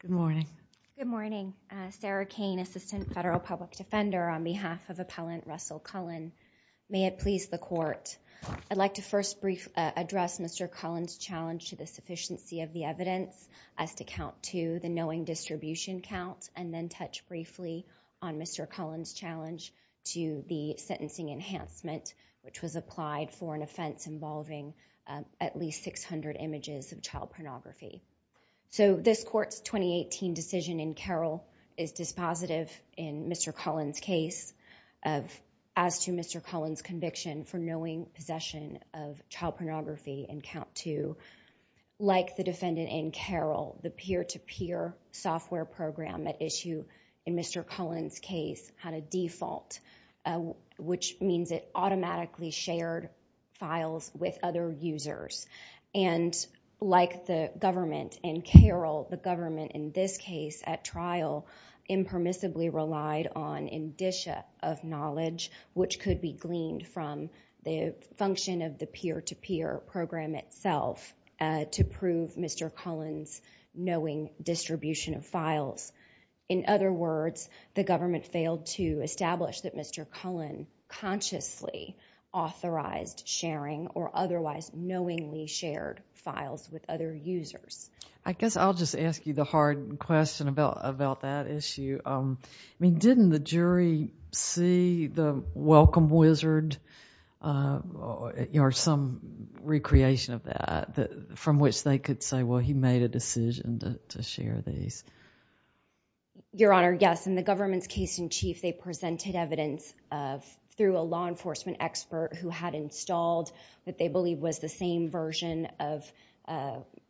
Good morning. Sarah Kane, Assistant Federal Public Defender on behalf of Appellant Russell Cullen. May it please the Court, I'd like to first address Mr. Cullen's challenge to the sufficiency of the evidence as to count to the knowing distribution count and then touch briefly on Mr. Cullen's challenge to the sentencing enhancement which was applied for an offense involving at least 600 images of child pornography. So this Court's 2018 decision in Carroll is dispositive in Mr. Cullen's case as to Mr. Cullen's conviction for knowing possession of child pornography and count to. Like the defendant in Carroll, the peer-to-peer software program at issue in Mr. Cullen's case had a default which means it automatically shared files with other users. And like the government in Carroll, the government in this case at trial impermissibly relied on indicia of knowledge which could be gleaned from the function of the peer-to-peer program itself to prove Mr. Cullen's knowing distribution of files. In other words, the government failed to establish that Mr. Cullen consciously authorized sharing or otherwise knowingly shared files with other users. I guess I'll just ask you the hard question about that issue. Didn't the jury see the welcome wizard or some recreation of that from which they could say, well, he made a decision to share these? Your Honor, yes. In the government's case in chief, they presented evidence through a law enforcement expert who had installed what they believe was the same version of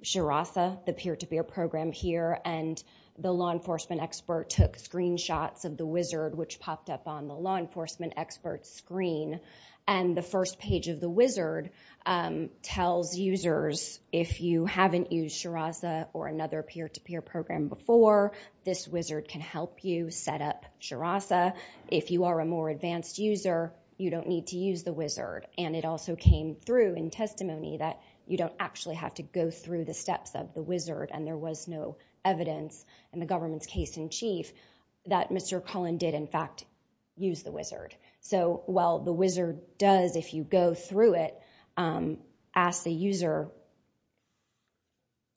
SHERASA, the peer-to-peer program here. And the law enforcement expert took screenshots of the wizard which popped up on the law enforcement expert's screen. And the first page of the wizard tells users if you haven't used SHERASA or another peer-to-peer program before, this wizard can help you set up SHERASA. If you are a more advanced user, you don't need to use the wizard. And it also came through in testimony that you don't actually have to go through the steps of the wizard and there was no evidence in the government's case in chief that Mr. Cullen did, in fact, use the wizard. So while the wizard does, if you go through it, ask the user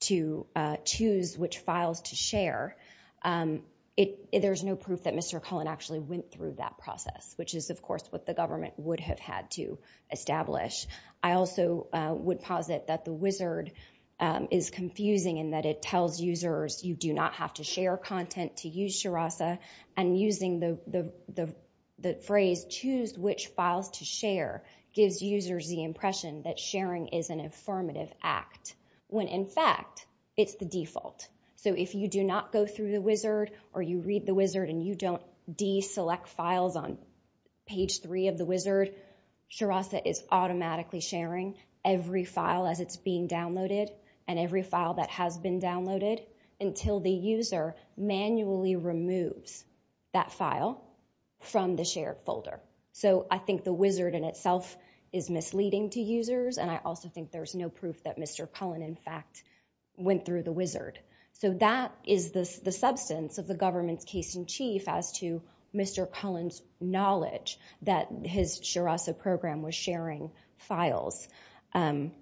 to choose which files to share, there's no proof that Mr. Cullen actually went through that process, which is, of course, what the government would have had to establish. I also would posit that the wizard is confusing in that it tells users you do not have to share content to use SHERASA. And using the phrase, choose which files to share, gives users the impression that sharing is an affirmative act, when in fact, it's the default. So if you do not go through the wizard or you read the wizard and you don't deselect files on page three of the wizard, SHERASA is automatically sharing every file as it's being downloaded and every file that has been downloaded until the user manually removes that file from the shared folder. So I think the wizard in itself is misleading to users and I also think there's no proof that Mr. Cullen, in fact, went through the wizard. So that is the substance of the government's case in chief as to Mr. Cullen's knowledge that his SHERASA program was sharing files. The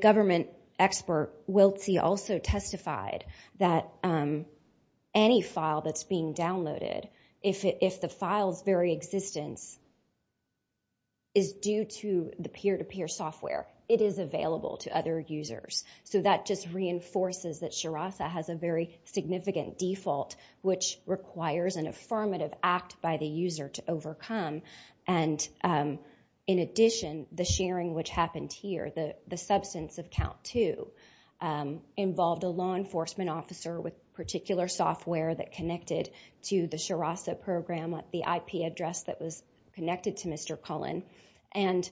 government expert, Wiltsy, also testified that any file that's being downloaded, if the file's very existence is due to the peer-to-peer software, it is available to other users. So that just reinforces that SHERASA has a very significant default which requires an affirmative act by the user to overcome. And in addition, the sharing which happened here, the substance of count two, involved a law enforcement officer with particular software that connected to the SHERASA program at the IP address that was connected to Mr. Cullen and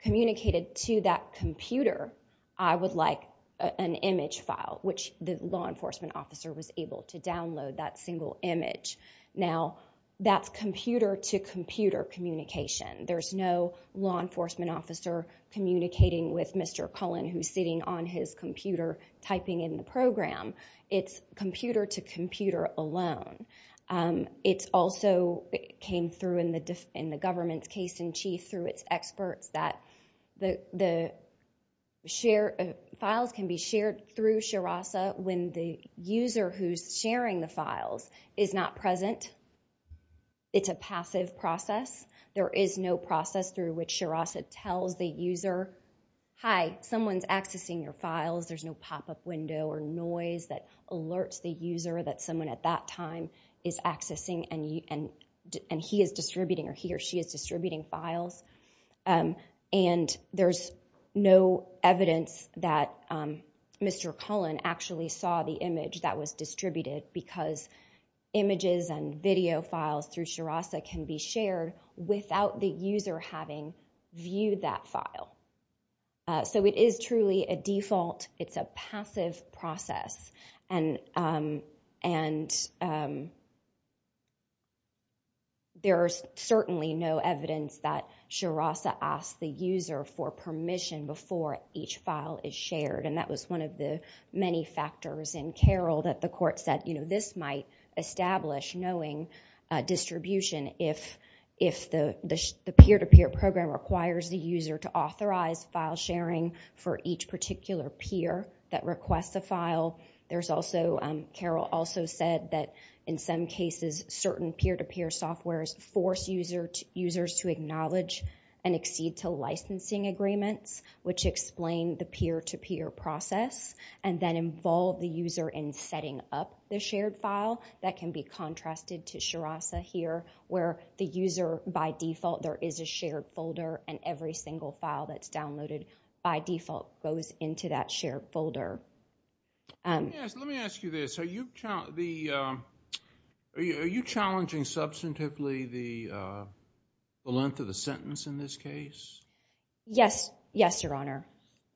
communicated to that computer, I would like an image file, which the law enforcement officer was able to download that single image. Now that's computer communication. There's no law enforcement officer communicating with Mr. Cullen who's sitting on his computer typing in the program. It's computer to computer alone. It also came through in the government's case in chief through its experts that the files can be shared through SHERASA when the user who's sharing the files is not present. It's a passive process. There is no process through which SHERASA tells the user, hi, someone's accessing your files. There's no pop-up window or noise that alerts the user that someone at that time is accessing and he is saw the image that was distributed because images and video files through SHERASA can be shared without the user having viewed that file. So it is truly a default. It's a passive process. There's certainly no evidence that SHERASA asked the user for permission before each file is shared. This might establish knowing distribution if the peer-to-peer program requires the user to authorize file sharing for each particular peer that requests a file. Carol also said that in some cases certain peer-to-peer softwares force users to acknowledge and accede to licensing agreements which explain the peer-to-peer process and then involve the user in setting up the shared file. That can be contrasted to SHERASA here where the user by default there is a shared folder and every single file that's downloaded by default goes into that shared folder. Let me ask you this. Are you challenging substantively the length of the sentence in this case? Yes, your honor.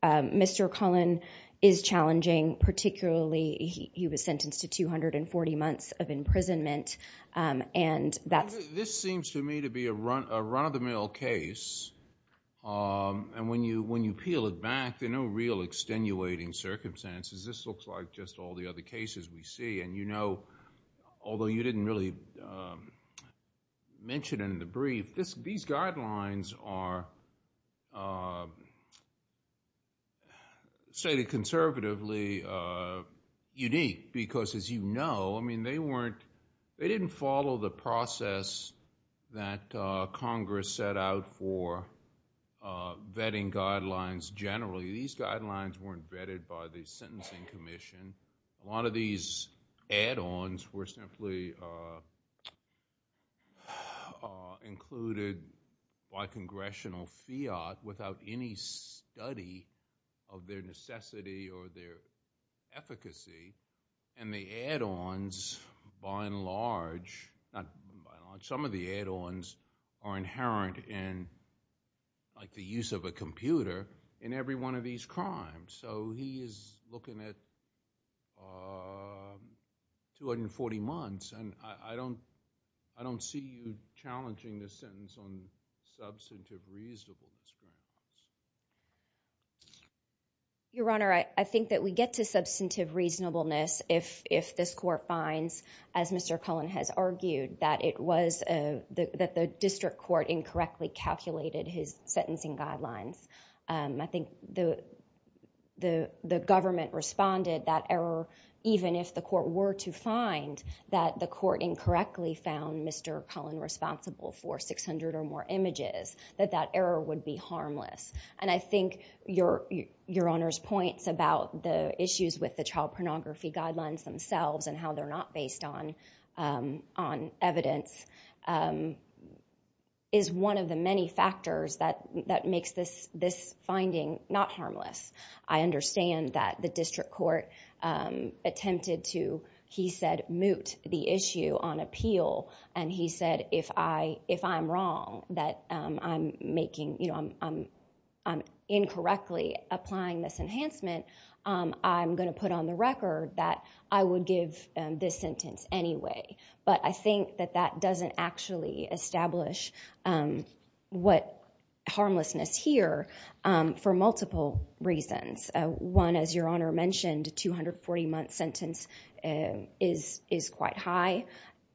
Mr. Cullen is challenging particularly he was sentenced to 240 months of imprisonment. This seems to me to be a run-of-the-mill case and when you peel it back there are no real extenuating circumstances. This looks like just all the other cases we see and you didn't really mention in the brief. These guidelines are stated conservatively unique because as you know, they didn't follow the process that Congress set out for vetting guidelines generally. These guidelines weren't vetted by the Sentencing Commission. A lot of these add-ons were simply included by congressional fiat without any study of their necessity or their efficacy and the add-ons by and large, some of the add-ons are inherent in like the use of a computer in every one of these crimes. He is looking at 240 months and I don't see you challenging the sentence on substantive reasonableness. Your honor, I think that we get to substantive reasonableness if this court finds, as Mr. Cullen has argued, that the district court incorrectly calculated his the government responded that error even if the court were to find that the court incorrectly found Mr. Cullen responsible for 600 or more images, that that error would be harmless. And I think your honor's points about the issues with the child pornography guidelines themselves and how they're not based on evidence is one of the many factors that I understand that the district court attempted to, he said, moot the issue on appeal and he said, if I'm wrong that I'm making, you know, I'm incorrectly applying this enhancement, I'm going to put on the record that I would give this sentence anyway. But I think that doesn't actually establish what harmlessness here for multiple reasons. One, as your honor mentioned, 240 month sentence is quite high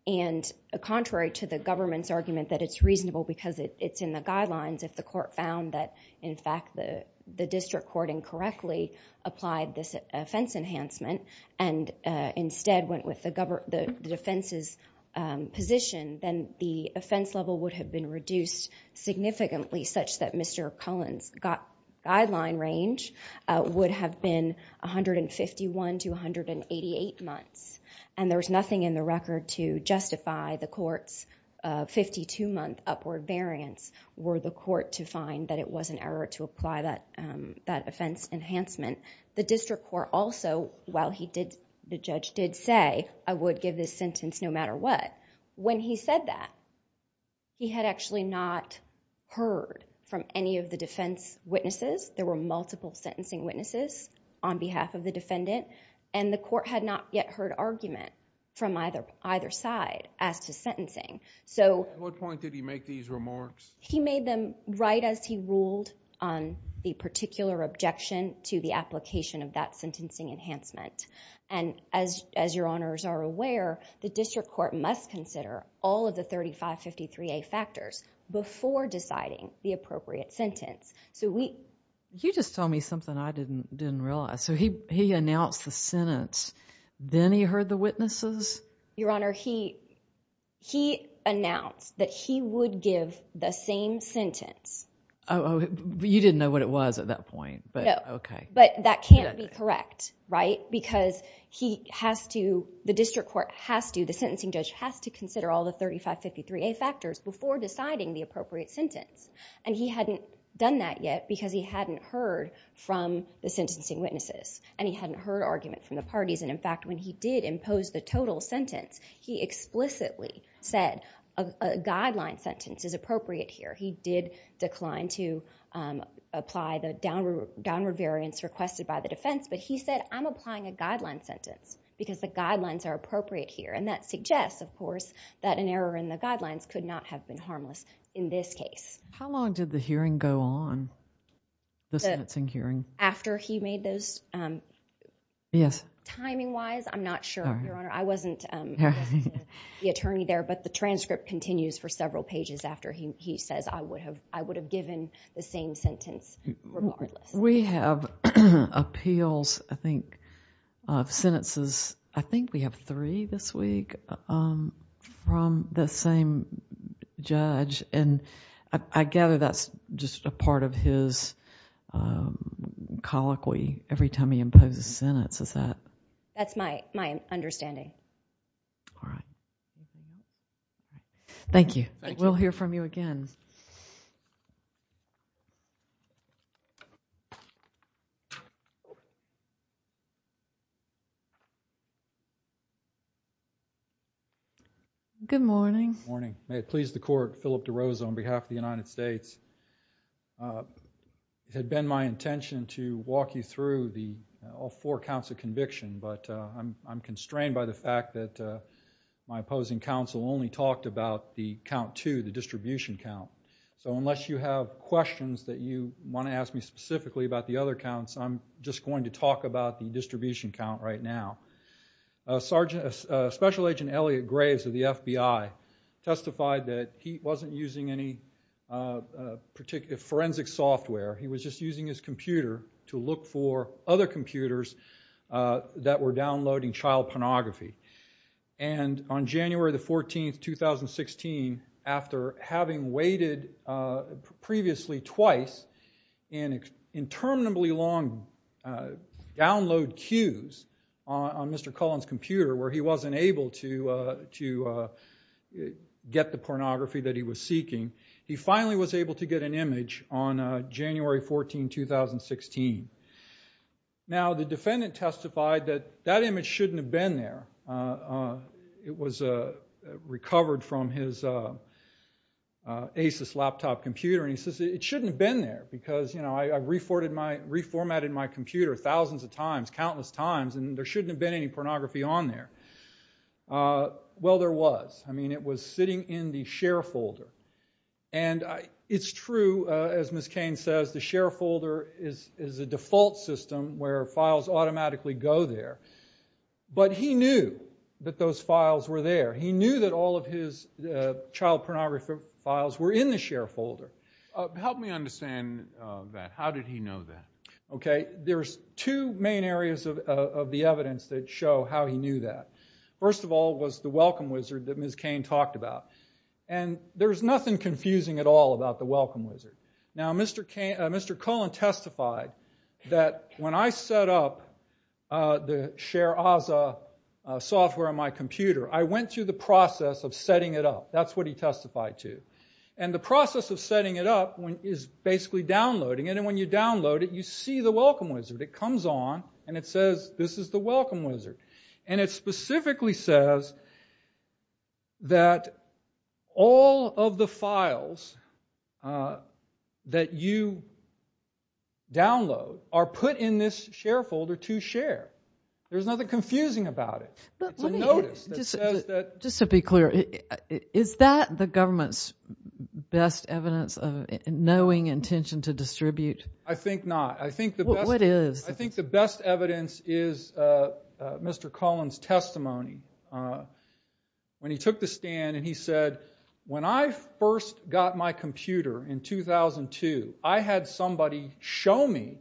and contrary to the government's argument that it's reasonable because it's in the guidelines if the court found that in fact the district court incorrectly applied this offense enhancement and instead went with the defense's position, then the offense level would have been reduced significantly such that Mr. Cullen's guideline range would have been 151 to 188 months. And there was nothing in the record to justify the court's 52 month upward variance were the court to find that it was an error to apply that offense enhancement. The district court also, while he did, the judge did say I would give this sentence no matter what, when he said that, he had actually not heard from any of the defense witnesses. There were multiple sentencing witnesses on behalf of the defendant and the court had not yet heard argument from either side as to sentencing. So... At what point did he make these remarks? He made them right as he ruled on the particular objection to the application of that sentencing enhancement. And as your honors are aware, the district court must consider all of the 3553A factors before deciding the appropriate sentence. So we... You just told me something I didn't realize. So he announced the sentence, then he heard the witnesses? Your honor, he announced that he would give the same sentence. You didn't know what it was at that point, but okay. But that can't be correct, right? Because he has to, the district court has to, the sentencing judge has to consider all the 3553A factors before deciding the appropriate sentence. And he hadn't done that yet because he hadn't heard from the sentencing witnesses. And he did impose the total sentence. He explicitly said a guideline sentence is appropriate here. He did decline to apply the downward variance requested by the defense, but he said, I'm applying a guideline sentence because the guidelines are appropriate here. And that suggests, of course, that an error in the guidelines could not have been harmless in this case. How long did the hearing go on, the sentencing hearing? After he made those... Yes. Timing-wise, I'm not sure, your honor. I wasn't the attorney there, but the transcript continues for several pages after he says, I would have given the same sentence regardless. We have appeals, I think, of sentences, I think we have three this week from the same judge. And I gather that's just a part of his colloquy every time he imposes a sentence, is that... That's my understanding. All right. Thank you. We'll hear from you again. Good morning. Morning. May it please the Court, Philip DeRosa on behalf of the United States. It had been my intention to walk you through all four counts of conviction, but I'm constrained by the fact that my opposing counsel only talked about the count two, the distribution count. So unless you have questions that you want to ask me specifically about the other counts, I'm just going to talk about the distribution count right now. Sergeant... Special Agent Elliot Graves of the FBI testified that he wasn't using any forensic software. He was just using his computer to look for other computers that were downloading child pornography. And on January the 14th, 2016, after having waited previously twice in interminably long download queues on Mr. Cullen's computer where he wasn't able to get the pornography that he was seeking, he finally was able to get an image on January 14, 2016. Now, the defendant testified that that image shouldn't have been there. It was recovered from his ACES laptop computer, and he says it shouldn't have been there because, you know, I reformatted my computer thousands of times, countless times, and there shouldn't have been any pornography on there. Well, there was. I mean, it was sitting in the share folder. And it's true, as Ms. Kane says, the share folder is a default system where files automatically go there. But he knew that those files were there. He knew that all of his child pornography files were in the share folder. Help me understand that. How did he know that? Okay, there's two main areas of the evidence that show how he knew that. First of all was the Welcome Wizard that Ms. Kane talked about. And there's nothing confusing at all about the Welcome Wizard. Now, Mr. Cullen testified that when I set up the Share AZA software on my computer, I went through the process of setting it up. That's what he testified to. And the process of setting it up is basically downloading it. And when you download it, you see the Welcome Wizard. It comes on, and it says this is the Welcome Wizard. And it specifically says that all of the files that you download are put in this share folder to share. There's nothing confusing about it. It's a notice that says that... Just to be clear, is that the government's best evidence of knowing intention to distribute? I think not. I think the best evidence is Mr. Cullen's testimony when he took the stand and he said, when I first got my computer in 2002, I had somebody show me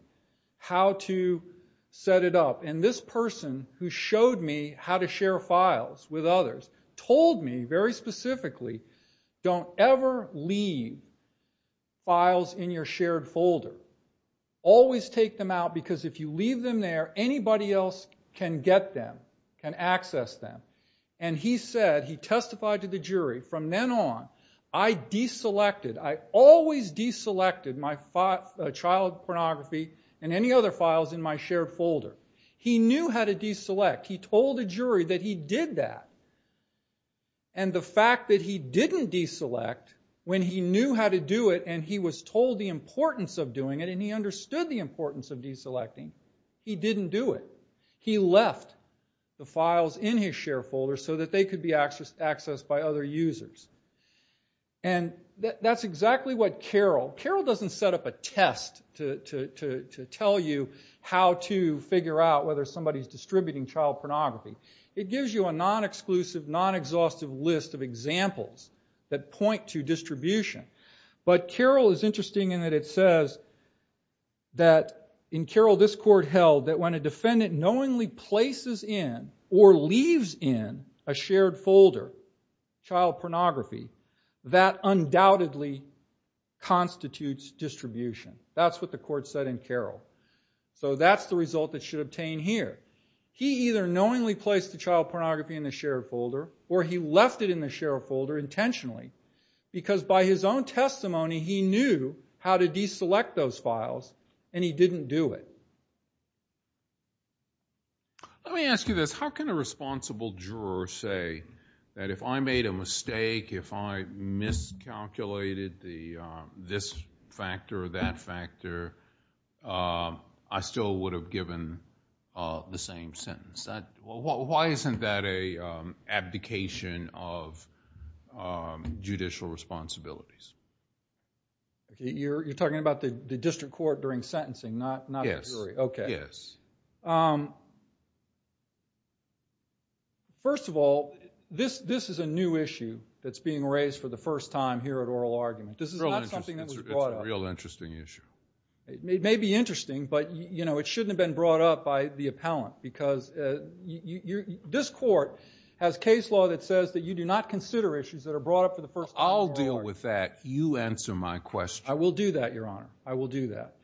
how to set it up. And this person who showed me how to share files with others told me very specifically, don't ever leave files in your shared folder. Always take them out, because if you leave them there, anybody else can get them, can access them. And he said, he testified to the jury, from then on, I deselected, I always deselected my child pornography and any other files in my shared folder. He knew how to deselect. He told the jury that he did that. And the fact that he didn't deselect, when he knew how to do it and he was told the importance of doing it and he understood the importance of deselecting, he didn't do it. He left the files in his shared folder so that they could be accessed by other users. And that's exactly what CAROL... CAROL doesn't set up a test to tell you how to figure out whether somebody's distributing child pornography. It gives you a non-exclusive, non-exhaustive list of examples that point to distribution. But CAROL is interesting in that it says that, in CAROL, this court held that when a defendant knowingly places in, or leaves in, a shared folder, child pornography, that undoubtedly constitutes distribution. That's what the court said in CAROL. So that's the result that should obtain here. He either knowingly placed the child pornography in the shared folder, or he left it in the shared folder intentionally, because by his own testimony, he knew how to deselect those files, and he didn't do it. Let me ask you this. How can a responsible juror say that if I made a mistake, if I miscalculated this factor or that factor, I still would have given the same sentence? Why isn't that an abdication of judicial responsibilities? You're talking about the district court during sentencing, not the jury? Yes. Okay. First of all, this is a new issue that's being raised for the first time here at Oral Argument. This is not something that was brought up. It's a real interesting issue. It may be interesting, but it shouldn't have been brought up by the appellant, because this court has case law that says that you do not consider issues that are brought up for the first time. I'll deal with that. You answer my question. I will do that, Your Honor. I will do that.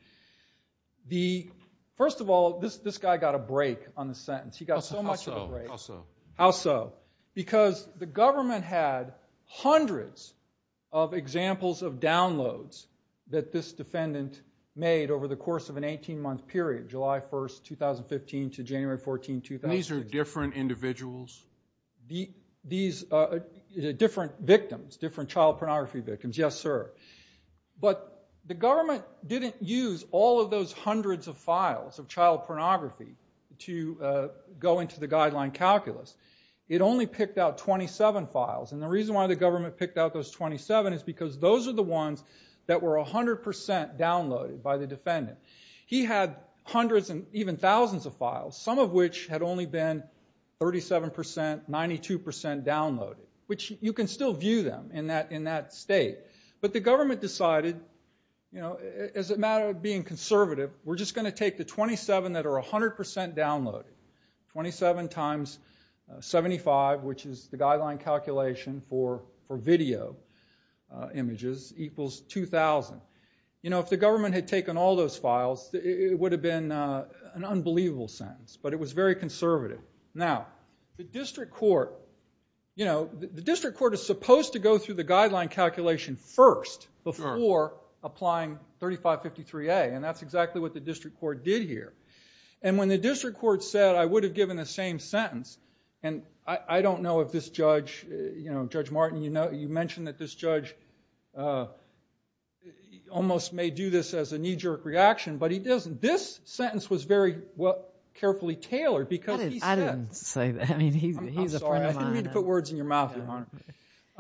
First of all, this guy got a break on the sentence. He got so much of a break. How so? Because the government had hundreds of examples of downloads that this defendant made over the course of an 18-month period, July 1, 2015 to January 14, 2015. These are different individuals? These are different victims, different child pornography victims, yes, sir. But the government didn't use all of those hundreds of files of child pornography to go into the guideline calculus. It only picked out 27 files. And the reason why the government picked out those 27 is because those are the ones that were 100% downloaded by the defendant. He had hundreds and even thousands of files, some of which had only been 37%, 92% downloaded, which you can still view them in that state. But the government decided, as a matter of being 100% downloaded, 27 times 75, which is the guideline calculation for video images, equals 2,000. You know, if the government had taken all those files, it would have been an unbelievable sentence. But it was very conservative. Now, the district court, you know, the district court is supposed to go through the guideline calculation first before applying 3553A. And that's exactly what the district court did here. And when the district court said, I would have given the same sentence, and I don't know if this judge, you know, Judge Martin, you know, you mentioned that this judge almost may do this as a knee-jerk reaction, but he doesn't. This sentence was very carefully tailored because he said... I didn't say that. I mean, he's a friend of mine. I'm sorry. I didn't mean to put words in your mouth, Your Honor.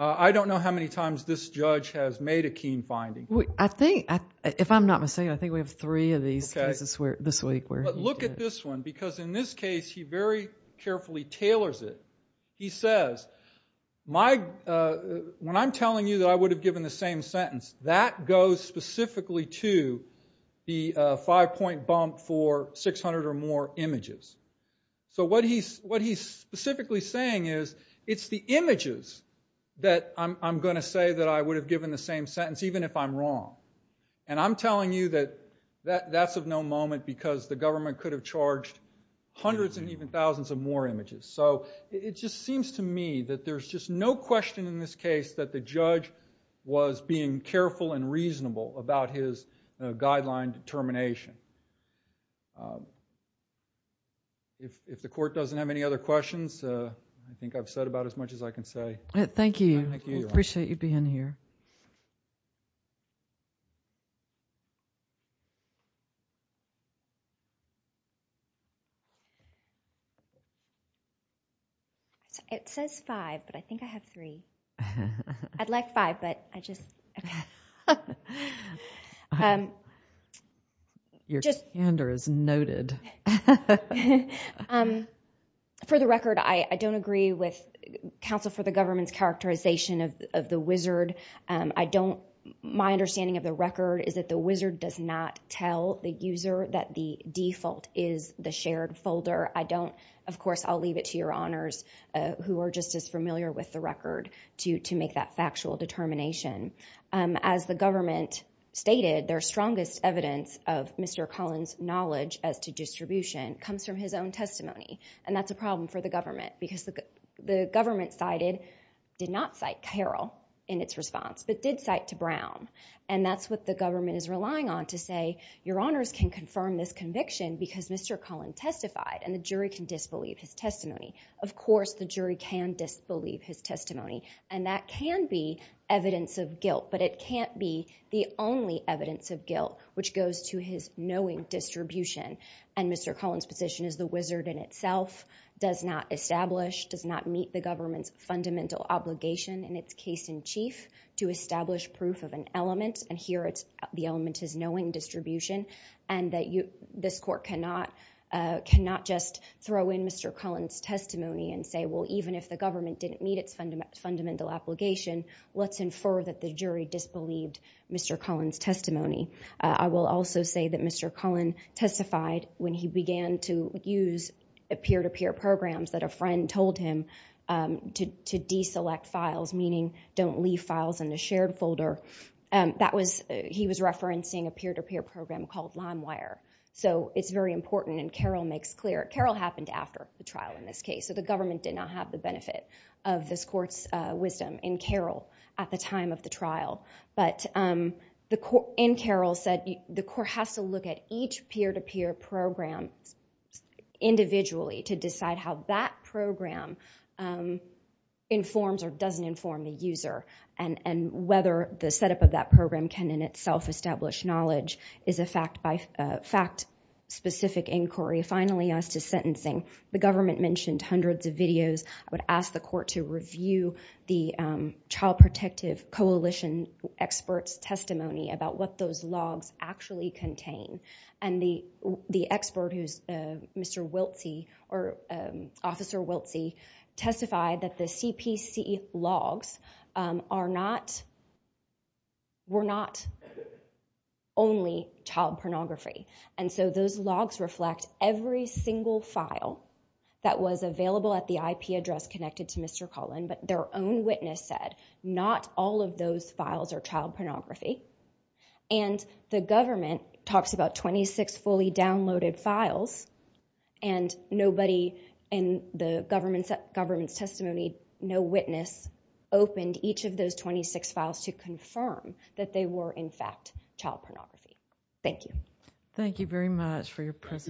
I don't know how many times this judge has made a keen finding. I think, if I'm not mistaken, I think we have three of these cases this week. But look at this one, because in this case, he very carefully tailors it. He says, when I'm telling you that I would have given the same sentence, that goes specifically to the five-point bump for 600 or more images. So what he's specifically saying is, it's the images that I'm going to say that I would have given the same sentence, even if I'm wrong. And I'm telling you that that's of no moment because the government could have charged hundreds and even thousands of more images. So it just seems to me that there's just no question in this case that the judge was being careful and reasonable about his guideline determination. If the court doesn't have any other questions, I think I've said about as much as I can say. Thank you. I appreciate you being here. It says five, but I think I have three. I'd like five, but I just... Your candor is noted. For the record, I don't agree with counsel for the government's characterization of the wizard. My understanding of the record is that the wizard does not tell the user that the default is the shared folder. Of course, I'll leave it to your honors, who are just as familiar with the record, to make that factual determination. As the government stated, their strongest evidence of Mr. Cullen's knowledge as to distribution comes from his own testimony. And that's a problem for the government, because the government cited, did not cite Carroll in its response, but did cite to Brown. And that's what the government is relying on to say, your honors can confirm this conviction because Mr. Cullen testified, and the jury can disbelieve his testimony. Of course, the jury can disbelieve his testimony. And that can be evidence of guilt, but it can't be the only evidence of guilt, which goes to his knowing distribution. And Mr. Cullen's position is the wizard in itself does not establish, does not meet the government's fundamental obligation, in its case in chief, to establish proof of an element. And here, the element is knowing distribution. And that this court cannot just throw in Mr. Cullen's testimony and say, well, even if the government didn't meet its fundamental obligation, let's infer that the jury disbelieved Mr. Cullen's testimony. I will also say that Mr. Cullen testified when he began to use peer-to-peer programs that a friend told him to deselect files, meaning don't leave files in a shared folder. That was, he was referencing a peer-to-peer program called LimeWire. So it's very important, and Carroll makes clear, Carroll happened after the trial in this case, so the government did not have the benefit of this court's wisdom in Carroll at the time of the trial. But in Carroll, the court has to look at each peer-to-peer program individually to decide how that program informs or doesn't inform the user and whether the setup of that program can in itself establish knowledge is a fact-specific inquiry. Finally, as to sentencing, the government mentioned hundreds of videos. I would ask the experts' testimony about what those logs actually contain, and the expert, Mr. Wiltsy, or Officer Wiltsy, testified that the CPC logs were not only child pornography. And so those logs reflect every single file that was available at the IP address connected to Mr. Wiltsy. And the government talks about 26 fully downloaded files, and nobody in the government's testimony, no witness, opened each of those 26 files to confirm that they were, in fact, child pornography. Thank you. Thank you very much for your presentation.